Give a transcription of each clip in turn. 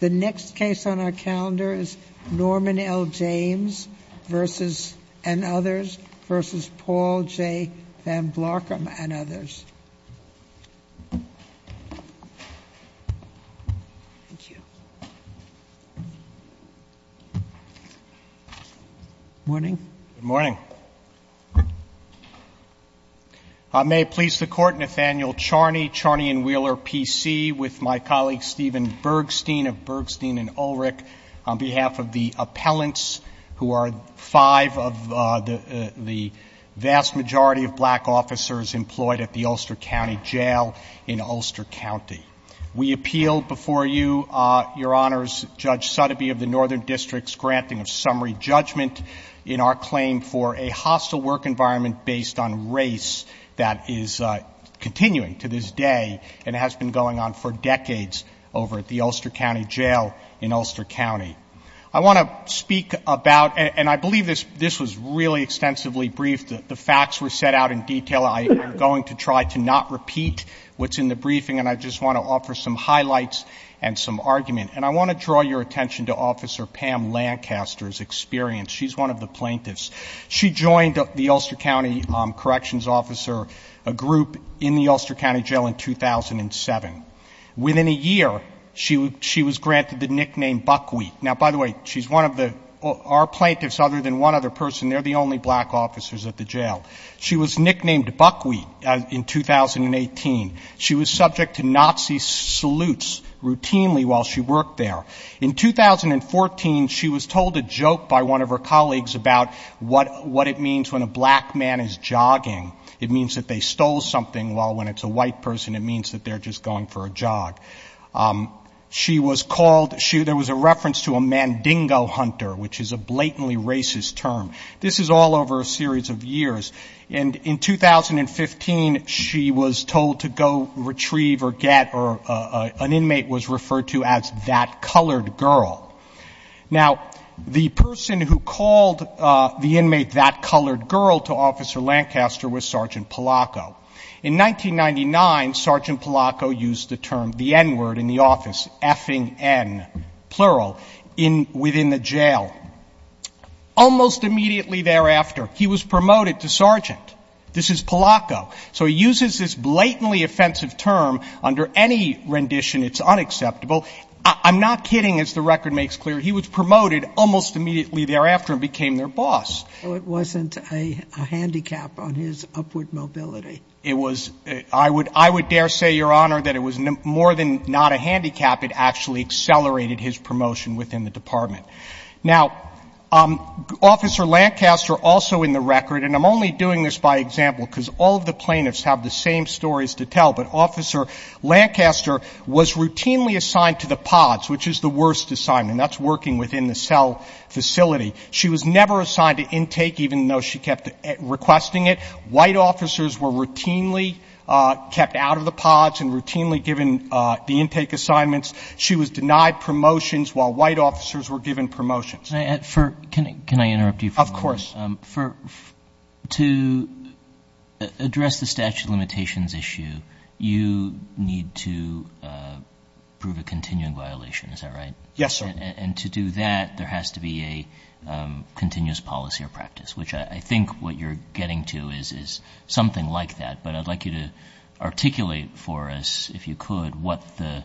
The next case on our calendar is Norman L. James v. and others v. Paul J. Van Blakum and others. Thank you. Morning. Good morning. I may please the Court, Nathaniel Charney, Charney & Wheeler, P.C., with my colleague Stephen Bergstein of Bergstein & Ulrich on behalf of the appellants who are five of the vast majority of black officers employed at the Ulster County Jail in Ulster County. We appeal before you, Your Honors, Judge Sotheby of the Northern District's granting of summary judgment in our claim for a hostile work environment based on race that is continuing to this day and has been going on for decades over at the Ulster County Jail in Ulster County. I want to speak about, and I believe this was really extensively briefed, the facts were set out in detail. I am going to try to not repeat what's in the briefing, and I just want to offer some highlights and some argument. And I want to draw your attention to Officer Pam Lancaster's experience. She's one of the plaintiffs. She joined the Ulster County Corrections Officer Group in the Ulster County Jail in 2007. Within a year, she was granted the nickname Buckwheat. Now, by the way, she's one of the, our plaintiffs other than one other person, they're the only black officers at the jail. She was nicknamed Buckwheat in 2018. She was subject to Nazi salutes routinely while she worked there. In 2014, she was told a joke by one of her colleagues about what it means when a black man is jogging. It means that they stole something, while when it's a white person, it means that they're just going for a jog. She was called, there was a reference to a mandingo hunter, which is a blatantly racist term. This is all over a series of years. And in 2015, she was told to go retrieve or get, or an inmate was referred to as that colored girl. Now, the person who called the inmate that colored girl to Officer Lancaster was Sergeant Palacco. In 1999, Sergeant Palacco used the term, the N word in the office, effing N, plural, within the jail. Almost immediately thereafter, he was promoted to sergeant. This is Palacco. So he uses this blatantly offensive term. Under any rendition, it's unacceptable. I'm not kidding, as the record makes clear. He was promoted almost immediately thereafter and became their boss. So it wasn't a handicap on his upward mobility. It was, I would dare say, Your Honor, that it was more than not a handicap. It actually accelerated his promotion within the department. Now, Officer Lancaster, also in the record, and I'm only doing this by example because all of the plaintiffs have the same stories to tell, but Officer Lancaster was routinely assigned to the pods, which is the worst assignment. That's working within the cell facility. She was never assigned to intake, even though she kept requesting it. White officers were routinely kept out of the pods and routinely given the intake assignments. She was denied promotions while white officers were given promotions. Can I interrupt you for a moment? Of course. To address the statute of limitations issue, you need to prove a continuing violation, is that right? Yes, sir. And to do that, there has to be a continuous policy or practice, which I think what you're getting to is something like that. But I'd like you to articulate for us, if you could, what the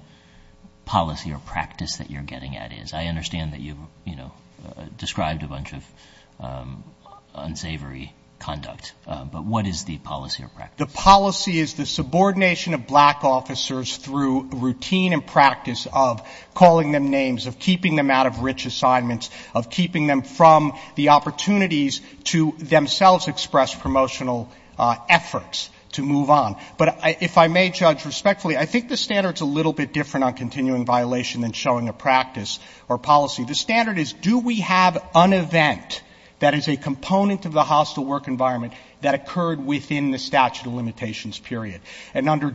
policy or practice that you're getting at is. I understand that you've, you know, described a bunch of unsavory conduct, but what is the policy or practice? The policy is the subordination of black officers through routine and practice of calling them names, of keeping them out of rich assignments, of keeping them from the opportunities to themselves express promotional efforts to move on. But if I may judge respectfully, I think the standard is a little bit different on continuing violation than showing a practice or policy. The standard is, do we have an event that is a component of the hostile work environment that occurred within the statute of limitations period? And under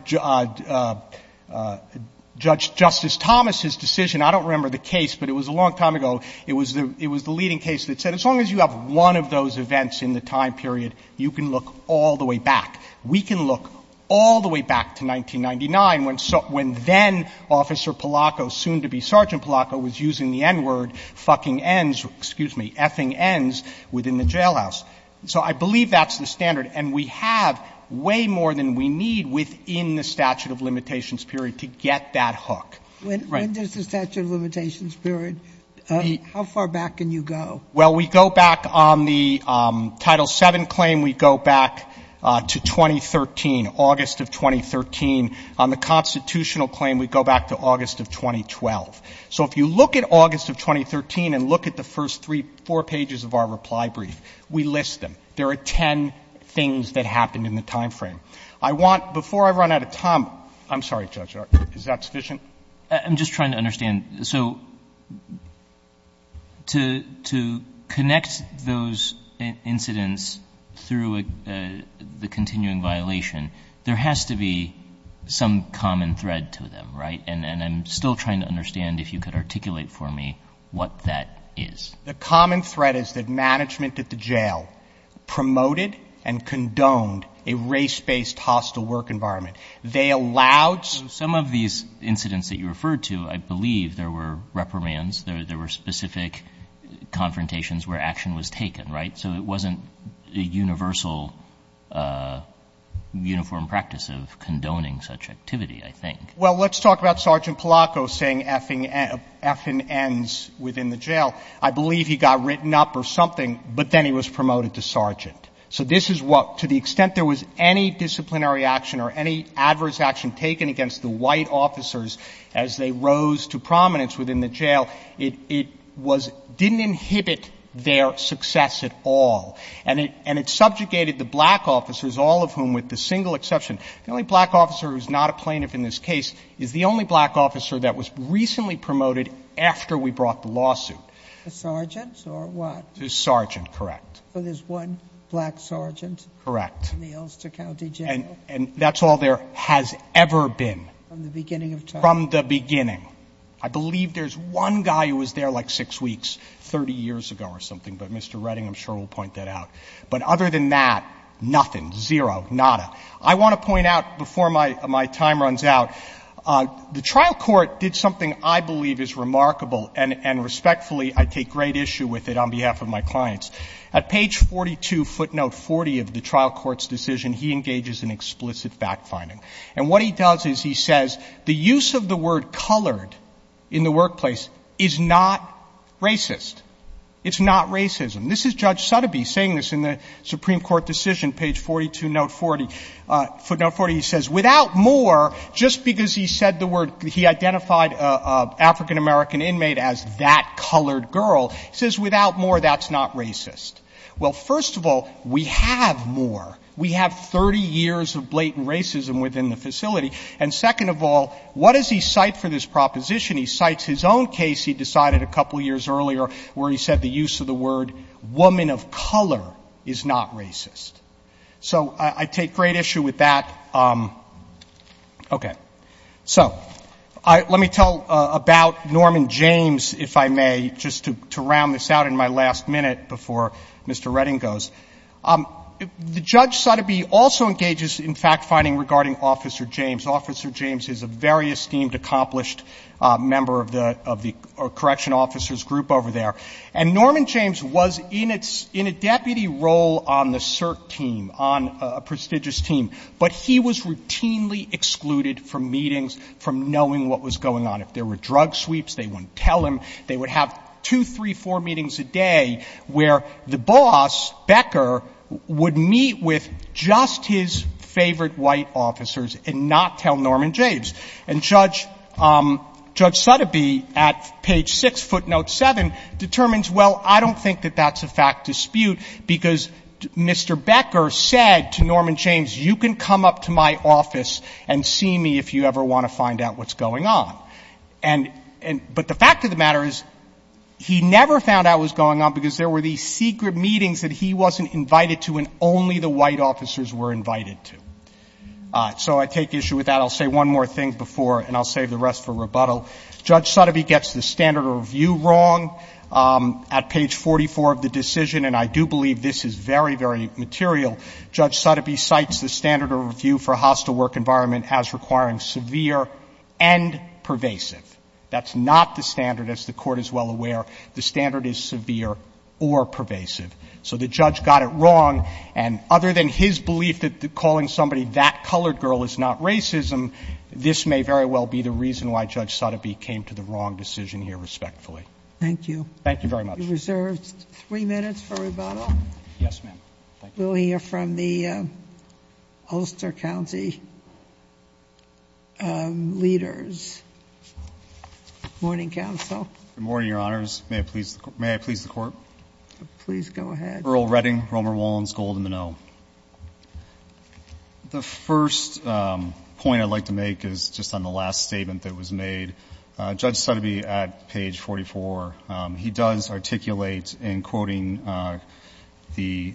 Judge Justice Thomas's decision, I don't remember the case, but it was a long time ago, it was the leading case that said as long as you have one of those events in the time period, you can look all the way back. We can look all the way back to 1999 when then-Officer Palacco, soon-to-be-Sergeant Palacco, was using the N-word, fucking Ns, excuse me, effing Ns within the jailhouse. So I believe that's the standard. And we have way more than we need within the statute of limitations period to get that hook. When does the statute of limitations period, how far back can you go? Well, we go back on the Title VII claim, we go back to 2013, August of 2013. On the constitutional claim, we go back to August of 2012. So if you look at August of 2013 and look at the first three, four pages of our reply brief, we list them. There are ten things that happened in the time frame. I want, before I run out of time, I'm sorry, Judge, is that sufficient? I'm just trying to understand. So to connect those incidents through the continuing violation, there has to be some common thread to them, right? And I'm still trying to understand if you could articulate for me what that is. The common thread is that management at the jail promoted and condoned a race-based hostile work environment. They allowed some of these incidents that you referred to. I believe there were reprimands. There were specific confrontations where action was taken, right? So it wasn't a universal, uniform practice of condoning such activity, I think. Well, let's talk about Sergeant Palacos saying effing ends within the jail. I believe he got written up or something, but then he was promoted to sergeant. So this is what, to the extent there was any disciplinary action or any adverse action taken against the white officers as they rose to prominence within the jail, it was, didn't inhibit their success at all. And it subjugated the black officers, all of whom, with the single exception, the only black officer who's not a plaintiff in this case is the only black officer that was recently promoted after we brought the lawsuit. The sergeants or what? The sergeant, correct. So there's one black sergeant? Correct. In the Elster County Jail? And that's all there has ever been. From the beginning of time? From the beginning. I believe there's one guy who was there like six weeks, 30 years ago or something, but Mr. Redding, I'm sure, will point that out. But other than that, nothing, zero, nada. I want to point out before my time runs out, the trial court did something I believe is remarkable, and respectfully, I take great issue with it on behalf of my clients. At page 42, footnote 40 of the trial court's decision, he engages in explicit fact-finding. And what he does is he says the use of the word colored in the workplace is not racist. It's not racism. This is Judge Sutterby saying this in the Supreme Court decision, page 42, note 40. Footnote 40, he says, without more, just because he said the word, he identified an African-American inmate as that colored girl, he says, without more, that's not racist. Well, first of all, we have more. We have 30 years of blatant racism within the facility. And second of all, what does he cite for this proposition? He cites his own case he decided a couple years earlier where he said the use of the word woman of color is not racist. So I take great issue with that. Okay. So let me tell about Norman James, if I may, just to round this out in my last minute before Mr. Redding goes. The Judge Sutterby also engages in fact-finding regarding Officer James. Officer James is a very esteemed, accomplished member of the correction officers group over there. And Norman James was in a deputy role on the CERT team, on a prestigious team. But he was routinely excluded from meetings, from knowing what was going on. If there were drug sweeps, they wouldn't tell him. They would have two, three, four meetings a day where the boss, Becker, would meet with just his favorite white officers and not tell Norman James. And Judge Sutterby at page 6, footnote 7, determines, well, I don't think that that's a fact dispute, because Mr. Becker said to Norman James, you can come up to my office and see me if you ever want to find out what's going on. But the fact of the matter is he never found out what was going on because there were these secret meetings that he wasn't invited to, and only the white officers were invited to. So I take issue with that. I'll say one more thing before, and I'll save the rest for rebuttal. Judge Sutterby gets the standard of review wrong. At page 44 of the decision, and I do believe this is very, very material, Judge Sutterby cites the standard of review for a hostile work environment as requiring severe and pervasive. That's not the standard, as the Court is well aware. The standard is severe or pervasive. So the judge got it wrong. And other than his belief that calling somebody that colored girl is not racism, this may very well be the reason why Judge Sutterby came to the wrong decision here respectfully. Thank you. Thank you very much. You're reserved three minutes for rebuttal. Yes, ma'am. Thank you. We'll hear from the Ulster County leaders. Morning, counsel. Good morning, Your Honors. May I please the Court? Please go ahead. Earl Redding. Romer Wallins. Golden Minow. The first point I'd like to make is just on the last statement that was made. Judge Sutterby at page 44, he does articulate in quoting the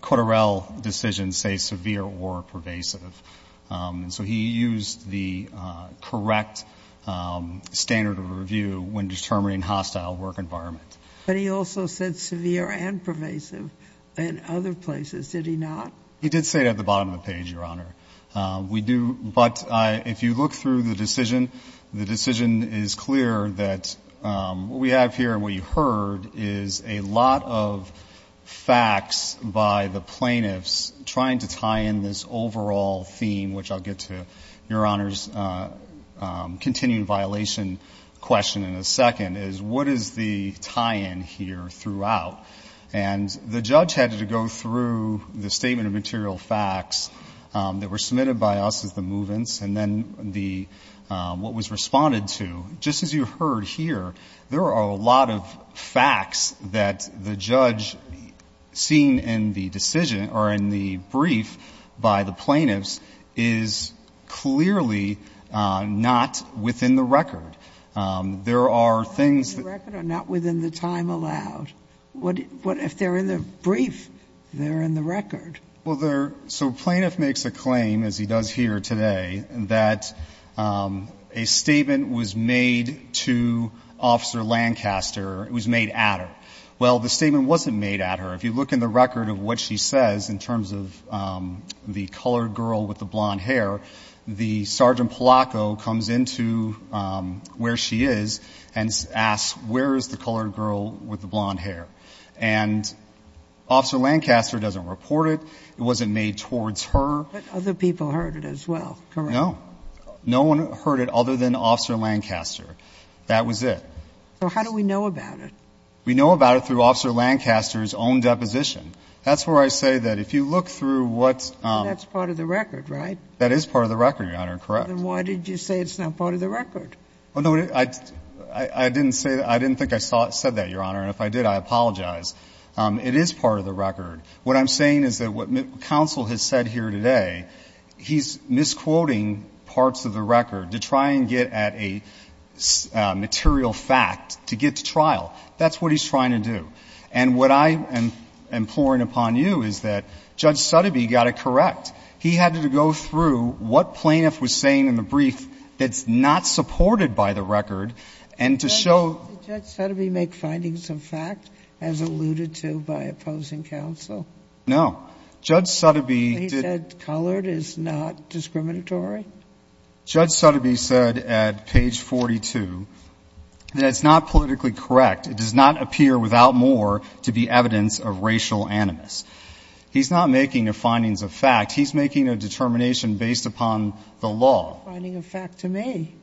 Coterell decision, say, severe or pervasive. And so he used the correct standard of review when determining hostile work environment. But he also said severe and pervasive in other places. Did he not? He did say it at the bottom of the page, Your Honor. We do. But if you look through the decision, the decision is clear that what we have here and what you heard is a lot of facts by the plaintiffs trying to tie in this overall theme, which I'll get to, Your Honors, continuing violation question in a second, is what is the tie-in here throughout? And the judge had to go through the statement of material facts that were submitted by us as the movements and then what was responded to. Just as you heard here, there are a lot of facts that the judge seen in the decision or in the brief by the plaintiffs is clearly not within the record. There are things that are not within the time allowed. If they're in the brief, they're in the record. Well, they're so plaintiff makes a claim, as he does here today, that a statement was made to Officer Lancaster. It was made at her. Well, the statement wasn't made at her. If you look in the record of what she says in terms of the colored girl with the blonde hair, the Sergeant Polacco comes into where she is and asks, where is the colored girl with the blonde hair? And Officer Lancaster doesn't report it. It wasn't made towards her. But other people heard it as well, correct? No. No one heard it other than Officer Lancaster. That was it. So how do we know about it? We know about it through Officer Lancaster's own deposition. That's where I say that if you look through what's the record. That is part of the record, Your Honor, correct. Then why did you say it's not part of the record? I didn't say that. I didn't think I said that, Your Honor. And if I did, I apologize. It is part of the record. What I'm saying is that what counsel has said here today, he's misquoting parts of the record to try and get at a material fact to get to trial. That's what he's trying to do. And what I am imploring upon you is that Judge Sotheby got it correct. He had to go through what plaintiff was saying in the brief that's not supported by the record and to show. Did Judge Sotheby make findings of fact as alluded to by opposing counsel? No. Judge Sotheby. He said colored is not discriminatory? Judge Sotheby said at page 42 that it's not politically correct. It does not appear without more to be evidence of racial animus. He's not making the findings of fact. He's making a determination based upon the law. Finding of fact to me.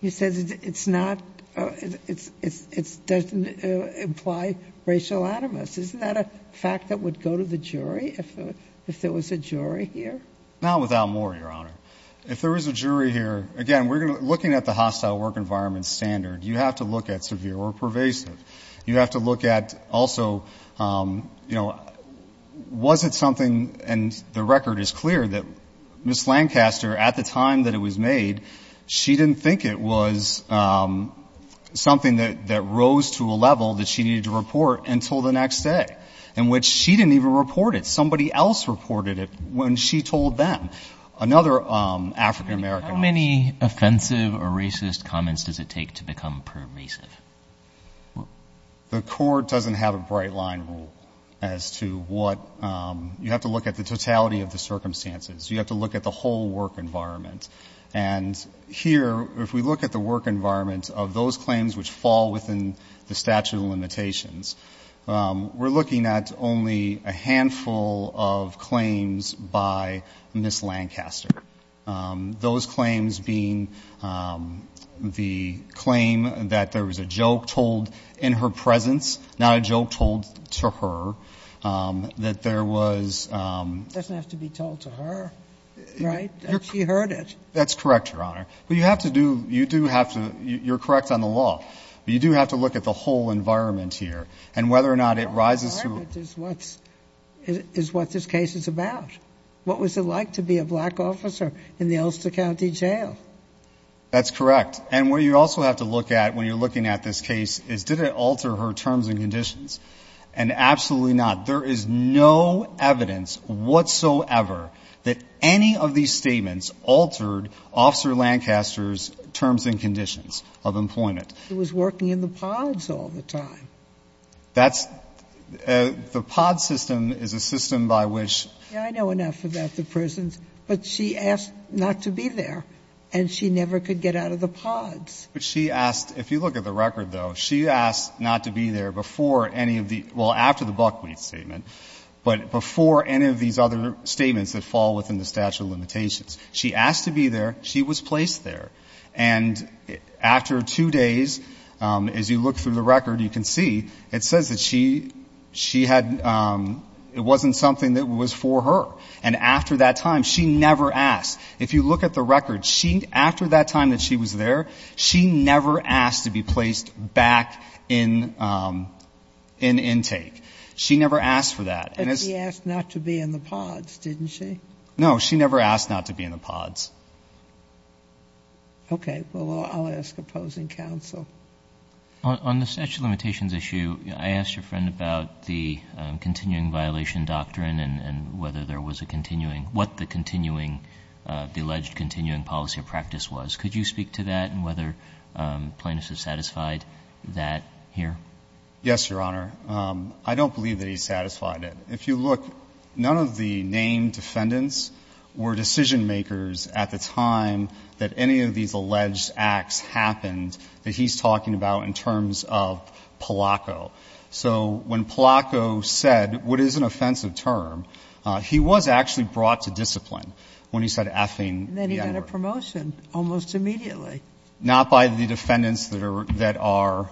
He says it's not, it doesn't imply racial animus. Isn't that a fact that would go to the jury if there was a jury here? Not without more, Your Honor. If there is a jury here, again, we're looking at the hostile work environment standard. You have to look at severe or pervasive. You have to look at also, you know, was it something, and the record is clear that Ms. Lancaster at the time that it was made, she didn't think it was something that rose to a level that she needed to report until the next day, in which she didn't even report it. Somebody else reported it when she told them. Another African-American. How many offensive or racist comments does it take to become pervasive? The court doesn't have a bright line rule as to what, you have to look at the totality of the circumstances. You have to look at the whole work environment. And here, if we look at the work environment of those claims which fall within the statute of limitations, we're looking at only a handful of claims by Ms. Lancaster. Those claims being the claim that there was a joke told in her presence, not a joke told to her, that there was. It doesn't have to be told to her, right? She heard it. That's correct, Your Honor. But you have to do, you do have to, you're correct on the law. But you do have to look at the whole environment here. And whether or not it rises to. The whole environment is what this case is about. What was it like to be a black officer in the Elster County Jail? That's correct. And what you also have to look at when you're looking at this case is, did it alter her terms and conditions? And absolutely not. There is no evidence whatsoever that any of these statements altered Officer Lancaster's terms and conditions of employment. He was working in the pods all the time. That's, the pod system is a system by which. Yeah, I know enough about the prisons. But she asked not to be there. And she never could get out of the pods. But she asked, if you look at the record, though, she asked not to be there before any of the, well, after the Buckwheat statement. But before any of these other statements that fall within the statute of limitations. She asked to be there. She was placed there. And after two days, as you look through the record, you can see, it says that she had, it wasn't something that was for her. And after that time, she never asked. If you look at the record, she, after that time that she was there, she never asked to be placed back in intake. She never asked for that. But she asked not to be in the pods, didn't she? No, she never asked not to be in the pods. Okay. Well, I'll ask opposing counsel. On the statute of limitations issue, I asked your friend about the continuing violation doctrine and whether there was a continuing, what the continuing, the alleged continuing policy of practice was. Could you speak to that and whether plaintiffs have satisfied that here? Yes, Your Honor. I don't believe that he satisfied it. If you look, none of the named defendants were decision makers at the time that any of these alleged acts happened that he's talking about in terms of Palaco. So when Palaco said, what is an offensive term, he was actually brought to discipline when he said effing, Your Honor. And then he got a promotion almost immediately. Not by the defendants that are, that are,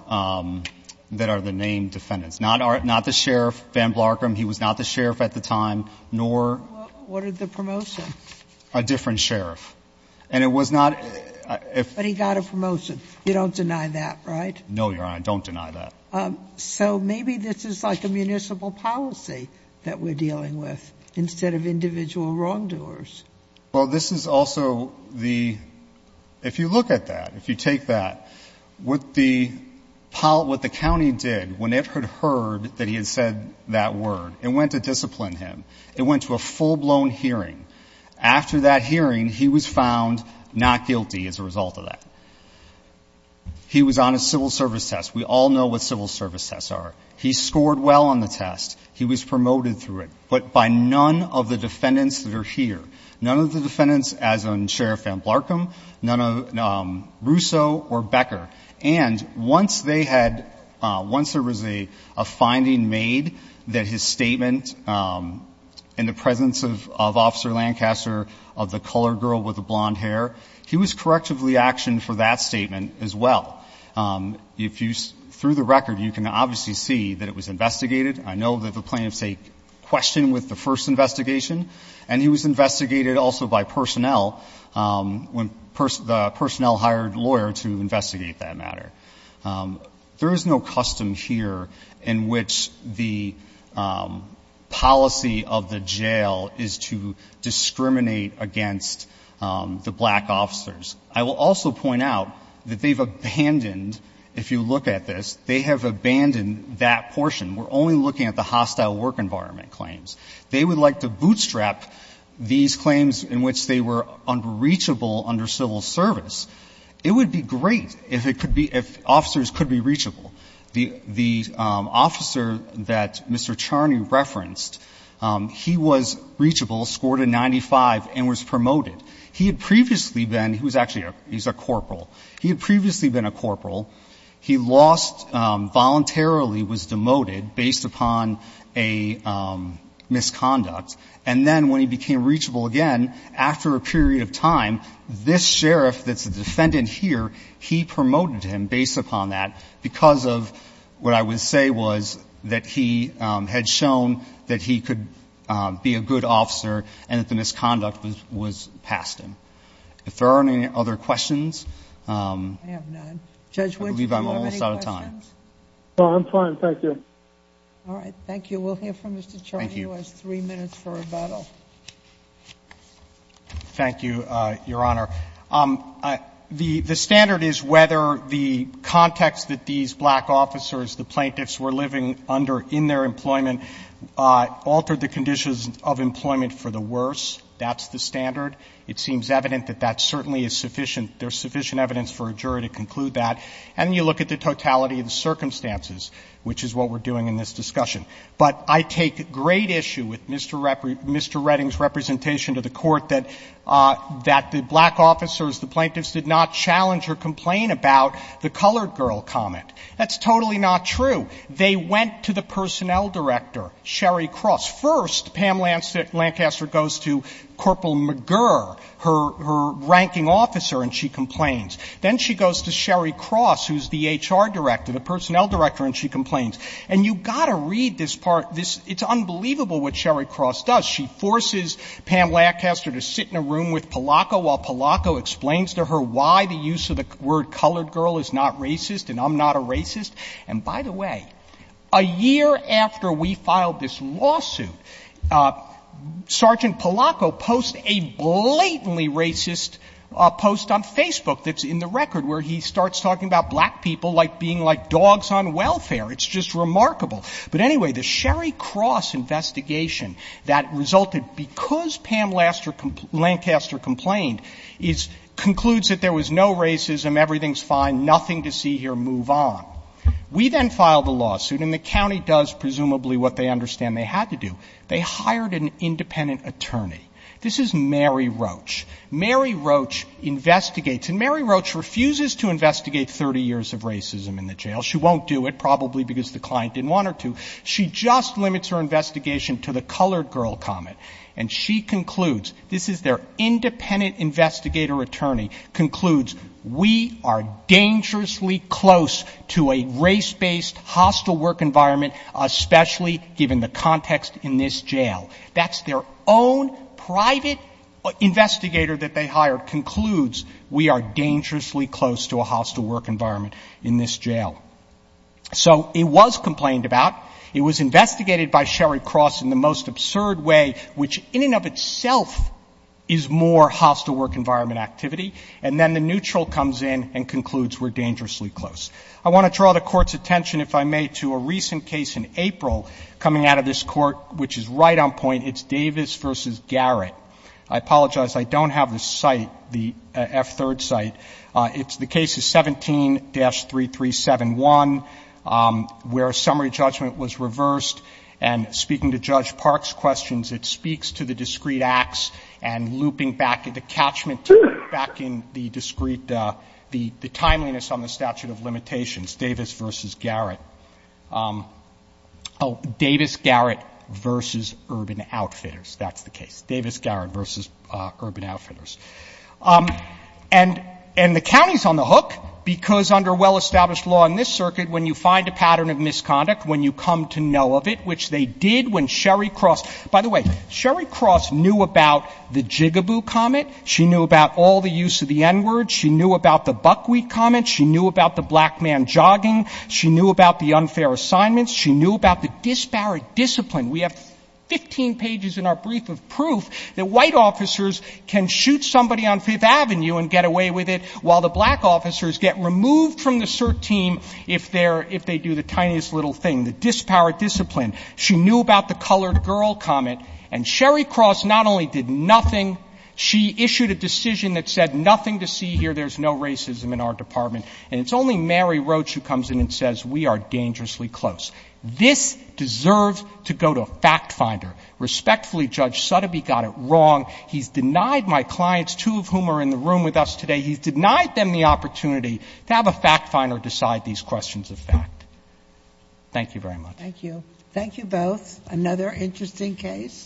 that are the named defendants. Not our, not the sheriff, Van Blarkham. He was not the sheriff at the time, nor. What are the promotion? A different sheriff. And it was not. But he got a promotion. You don't deny that, right? No, Your Honor. I don't deny that. So maybe this is like a municipal policy that we're dealing with instead of individual wrongdoers. Well, this is also the, if you look at that, if you take that, what the, what the word, it went to discipline him. It went to a full-blown hearing. After that hearing, he was found not guilty as a result of that. He was on a civil service test. We all know what civil service tests are. He scored well on the test. He was promoted through it. But by none of the defendants that are here. None of the defendants as in Sheriff Van Blarkham. None of, Russo or Becker. And once they had, once there was a finding made that his statement in the presence of Officer Lancaster of the colored girl with the blonde hair, he was correctively actioned for that statement as well. If you, through the record, you can obviously see that it was investigated. I know that the plaintiff's a question with the first investigation. And he was investigated also by personnel when the personnel hired a lawyer to investigate that matter. There is no custom here in which the policy of the jail is to discriminate against the black officers. I will also point out that they've abandoned, if you look at this, they have abandoned that portion. We're only looking at the hostile work environment claims. They would like to bootstrap these claims in which they were unreachable under civil service. It would be great if it could be, if officers could be reachable. The officer that Mr. Charney referenced, he was reachable, scored a 95 and was promoted. He had previously been, he was actually a, he's a corporal. He had previously been a corporal. He lost, voluntarily was demoted based upon a misconduct. And then when he became reachable again, after a period of time, this sheriff that's the defendant here, he promoted him based upon that because of what I would say was that he had shown that he could be a good officer and that the misconduct was passed him. If there aren't any other questions. I believe I'm almost out of time. All right. Thank you. We'll hear from Mr. Charney. He has three minutes for rebuttal. Thank you, Your Honor. The standard is whether the context that these black officers, the plaintiffs were living under in their employment, altered the conditions of employment for the worse. That's the standard. It seems evident that that certainly is sufficient. There's sufficient evidence for a jury to conclude that. And then you look at the totality of the circumstances, which is what we're doing in this discussion. But I take great issue with Mr. Redding's representation to the Court that the black officers, the plaintiffs, did not challenge or complain about the colored girl comment. That's totally not true. They went to the personnel director, Sherry Cross. First, Pam Lancaster goes to Corporal McGurr, her ranking officer, and she complains. Then she goes to Sherry Cross, who's the HR director, the personnel director, and she complains. And you've got to read this part. It's unbelievable what Sherry Cross does. She forces Pam Lancaster to sit in a room with Palacco while Palacco explains to her why the use of the word colored girl is not racist and I'm not a racist. And by the way, a year after we filed this lawsuit, Sergeant Palacco posts a blatantly racist post on Facebook that's in the record where he starts talking about black people like being like dogs on welfare. It's just remarkable. But anyway, the Sherry Cross investigation that resulted because Pam Lancaster complained concludes that there was no racism, everything's fine, nothing to see here, move on. We then filed the lawsuit and the county does presumably what they understand they had to do. They hired an independent attorney. This is Mary Roach. Mary Roach investigates and Mary Roach refuses to investigate 30 years of racism in the jail. She won't do it, probably because the client didn't want her to. She just limits her investigation to the colored girl comment. And she concludes, this is their independent investigator attorney, concludes we are dangerously close to a race-based hostile work environment, especially given the context in this jail. That's their own private investigator that they hired concludes we are dangerously close to a hostile work environment in this jail. So it was complained about. It was investigated by Sherry Cross in the most absurd way, which in and of itself is more hostile work environment activity. And then the neutral comes in and concludes we're dangerously close. I want to draw the Court's attention, if I may, to a recent case in April coming out of this Court, which is right on point. It's Davis v. Garrett. I apologize. I don't have the site, the F-3rd site. It's the case of 17-3371, where summary judgment was reversed. And speaking to Judge Park's questions, it speaks to the discrete acts and looping back into catchment, back in the discrete, the timeliness on the statute of limitations, Davis v. Garrett. Oh, Davis-Garrett v. Urban Outfitters, that's the case. Davis-Garrett v. Urban Outfitters. And the county's on the hook, because under well-established law in this circuit, when you find a pattern of misconduct, when you come to know of it, which they did when Sherry Cross — by the way, Sherry Cross knew about the jigaboo comment. She knew about all the use of the N-word. She knew about the buckwheat comment. She knew about the black man jogging. She knew about the unfair assignments. She knew about the disparate discipline. We have 15 pages in our brief of proof that white officers can shoot somebody on Fifth Avenue and get away with it, while the black officers get removed from the CERT team if they do the tiniest little thing, the disparate discipline. She knew about the colored girl comment. And Sherry Cross not only did nothing, she issued a decision that said, nothing to see here, there's no racism in our department. And it's only Mary Roach who comes in and says, we are dangerously close. This deserves to go to a fact finder. Respectfully, Judge Sotheby got it wrong. He's denied my clients, two of whom are in the room with us today, he's denied them the opportunity to have a fact finder decide these questions of fact. Thank you very much. Thank you. Thank you both. Another interesting case.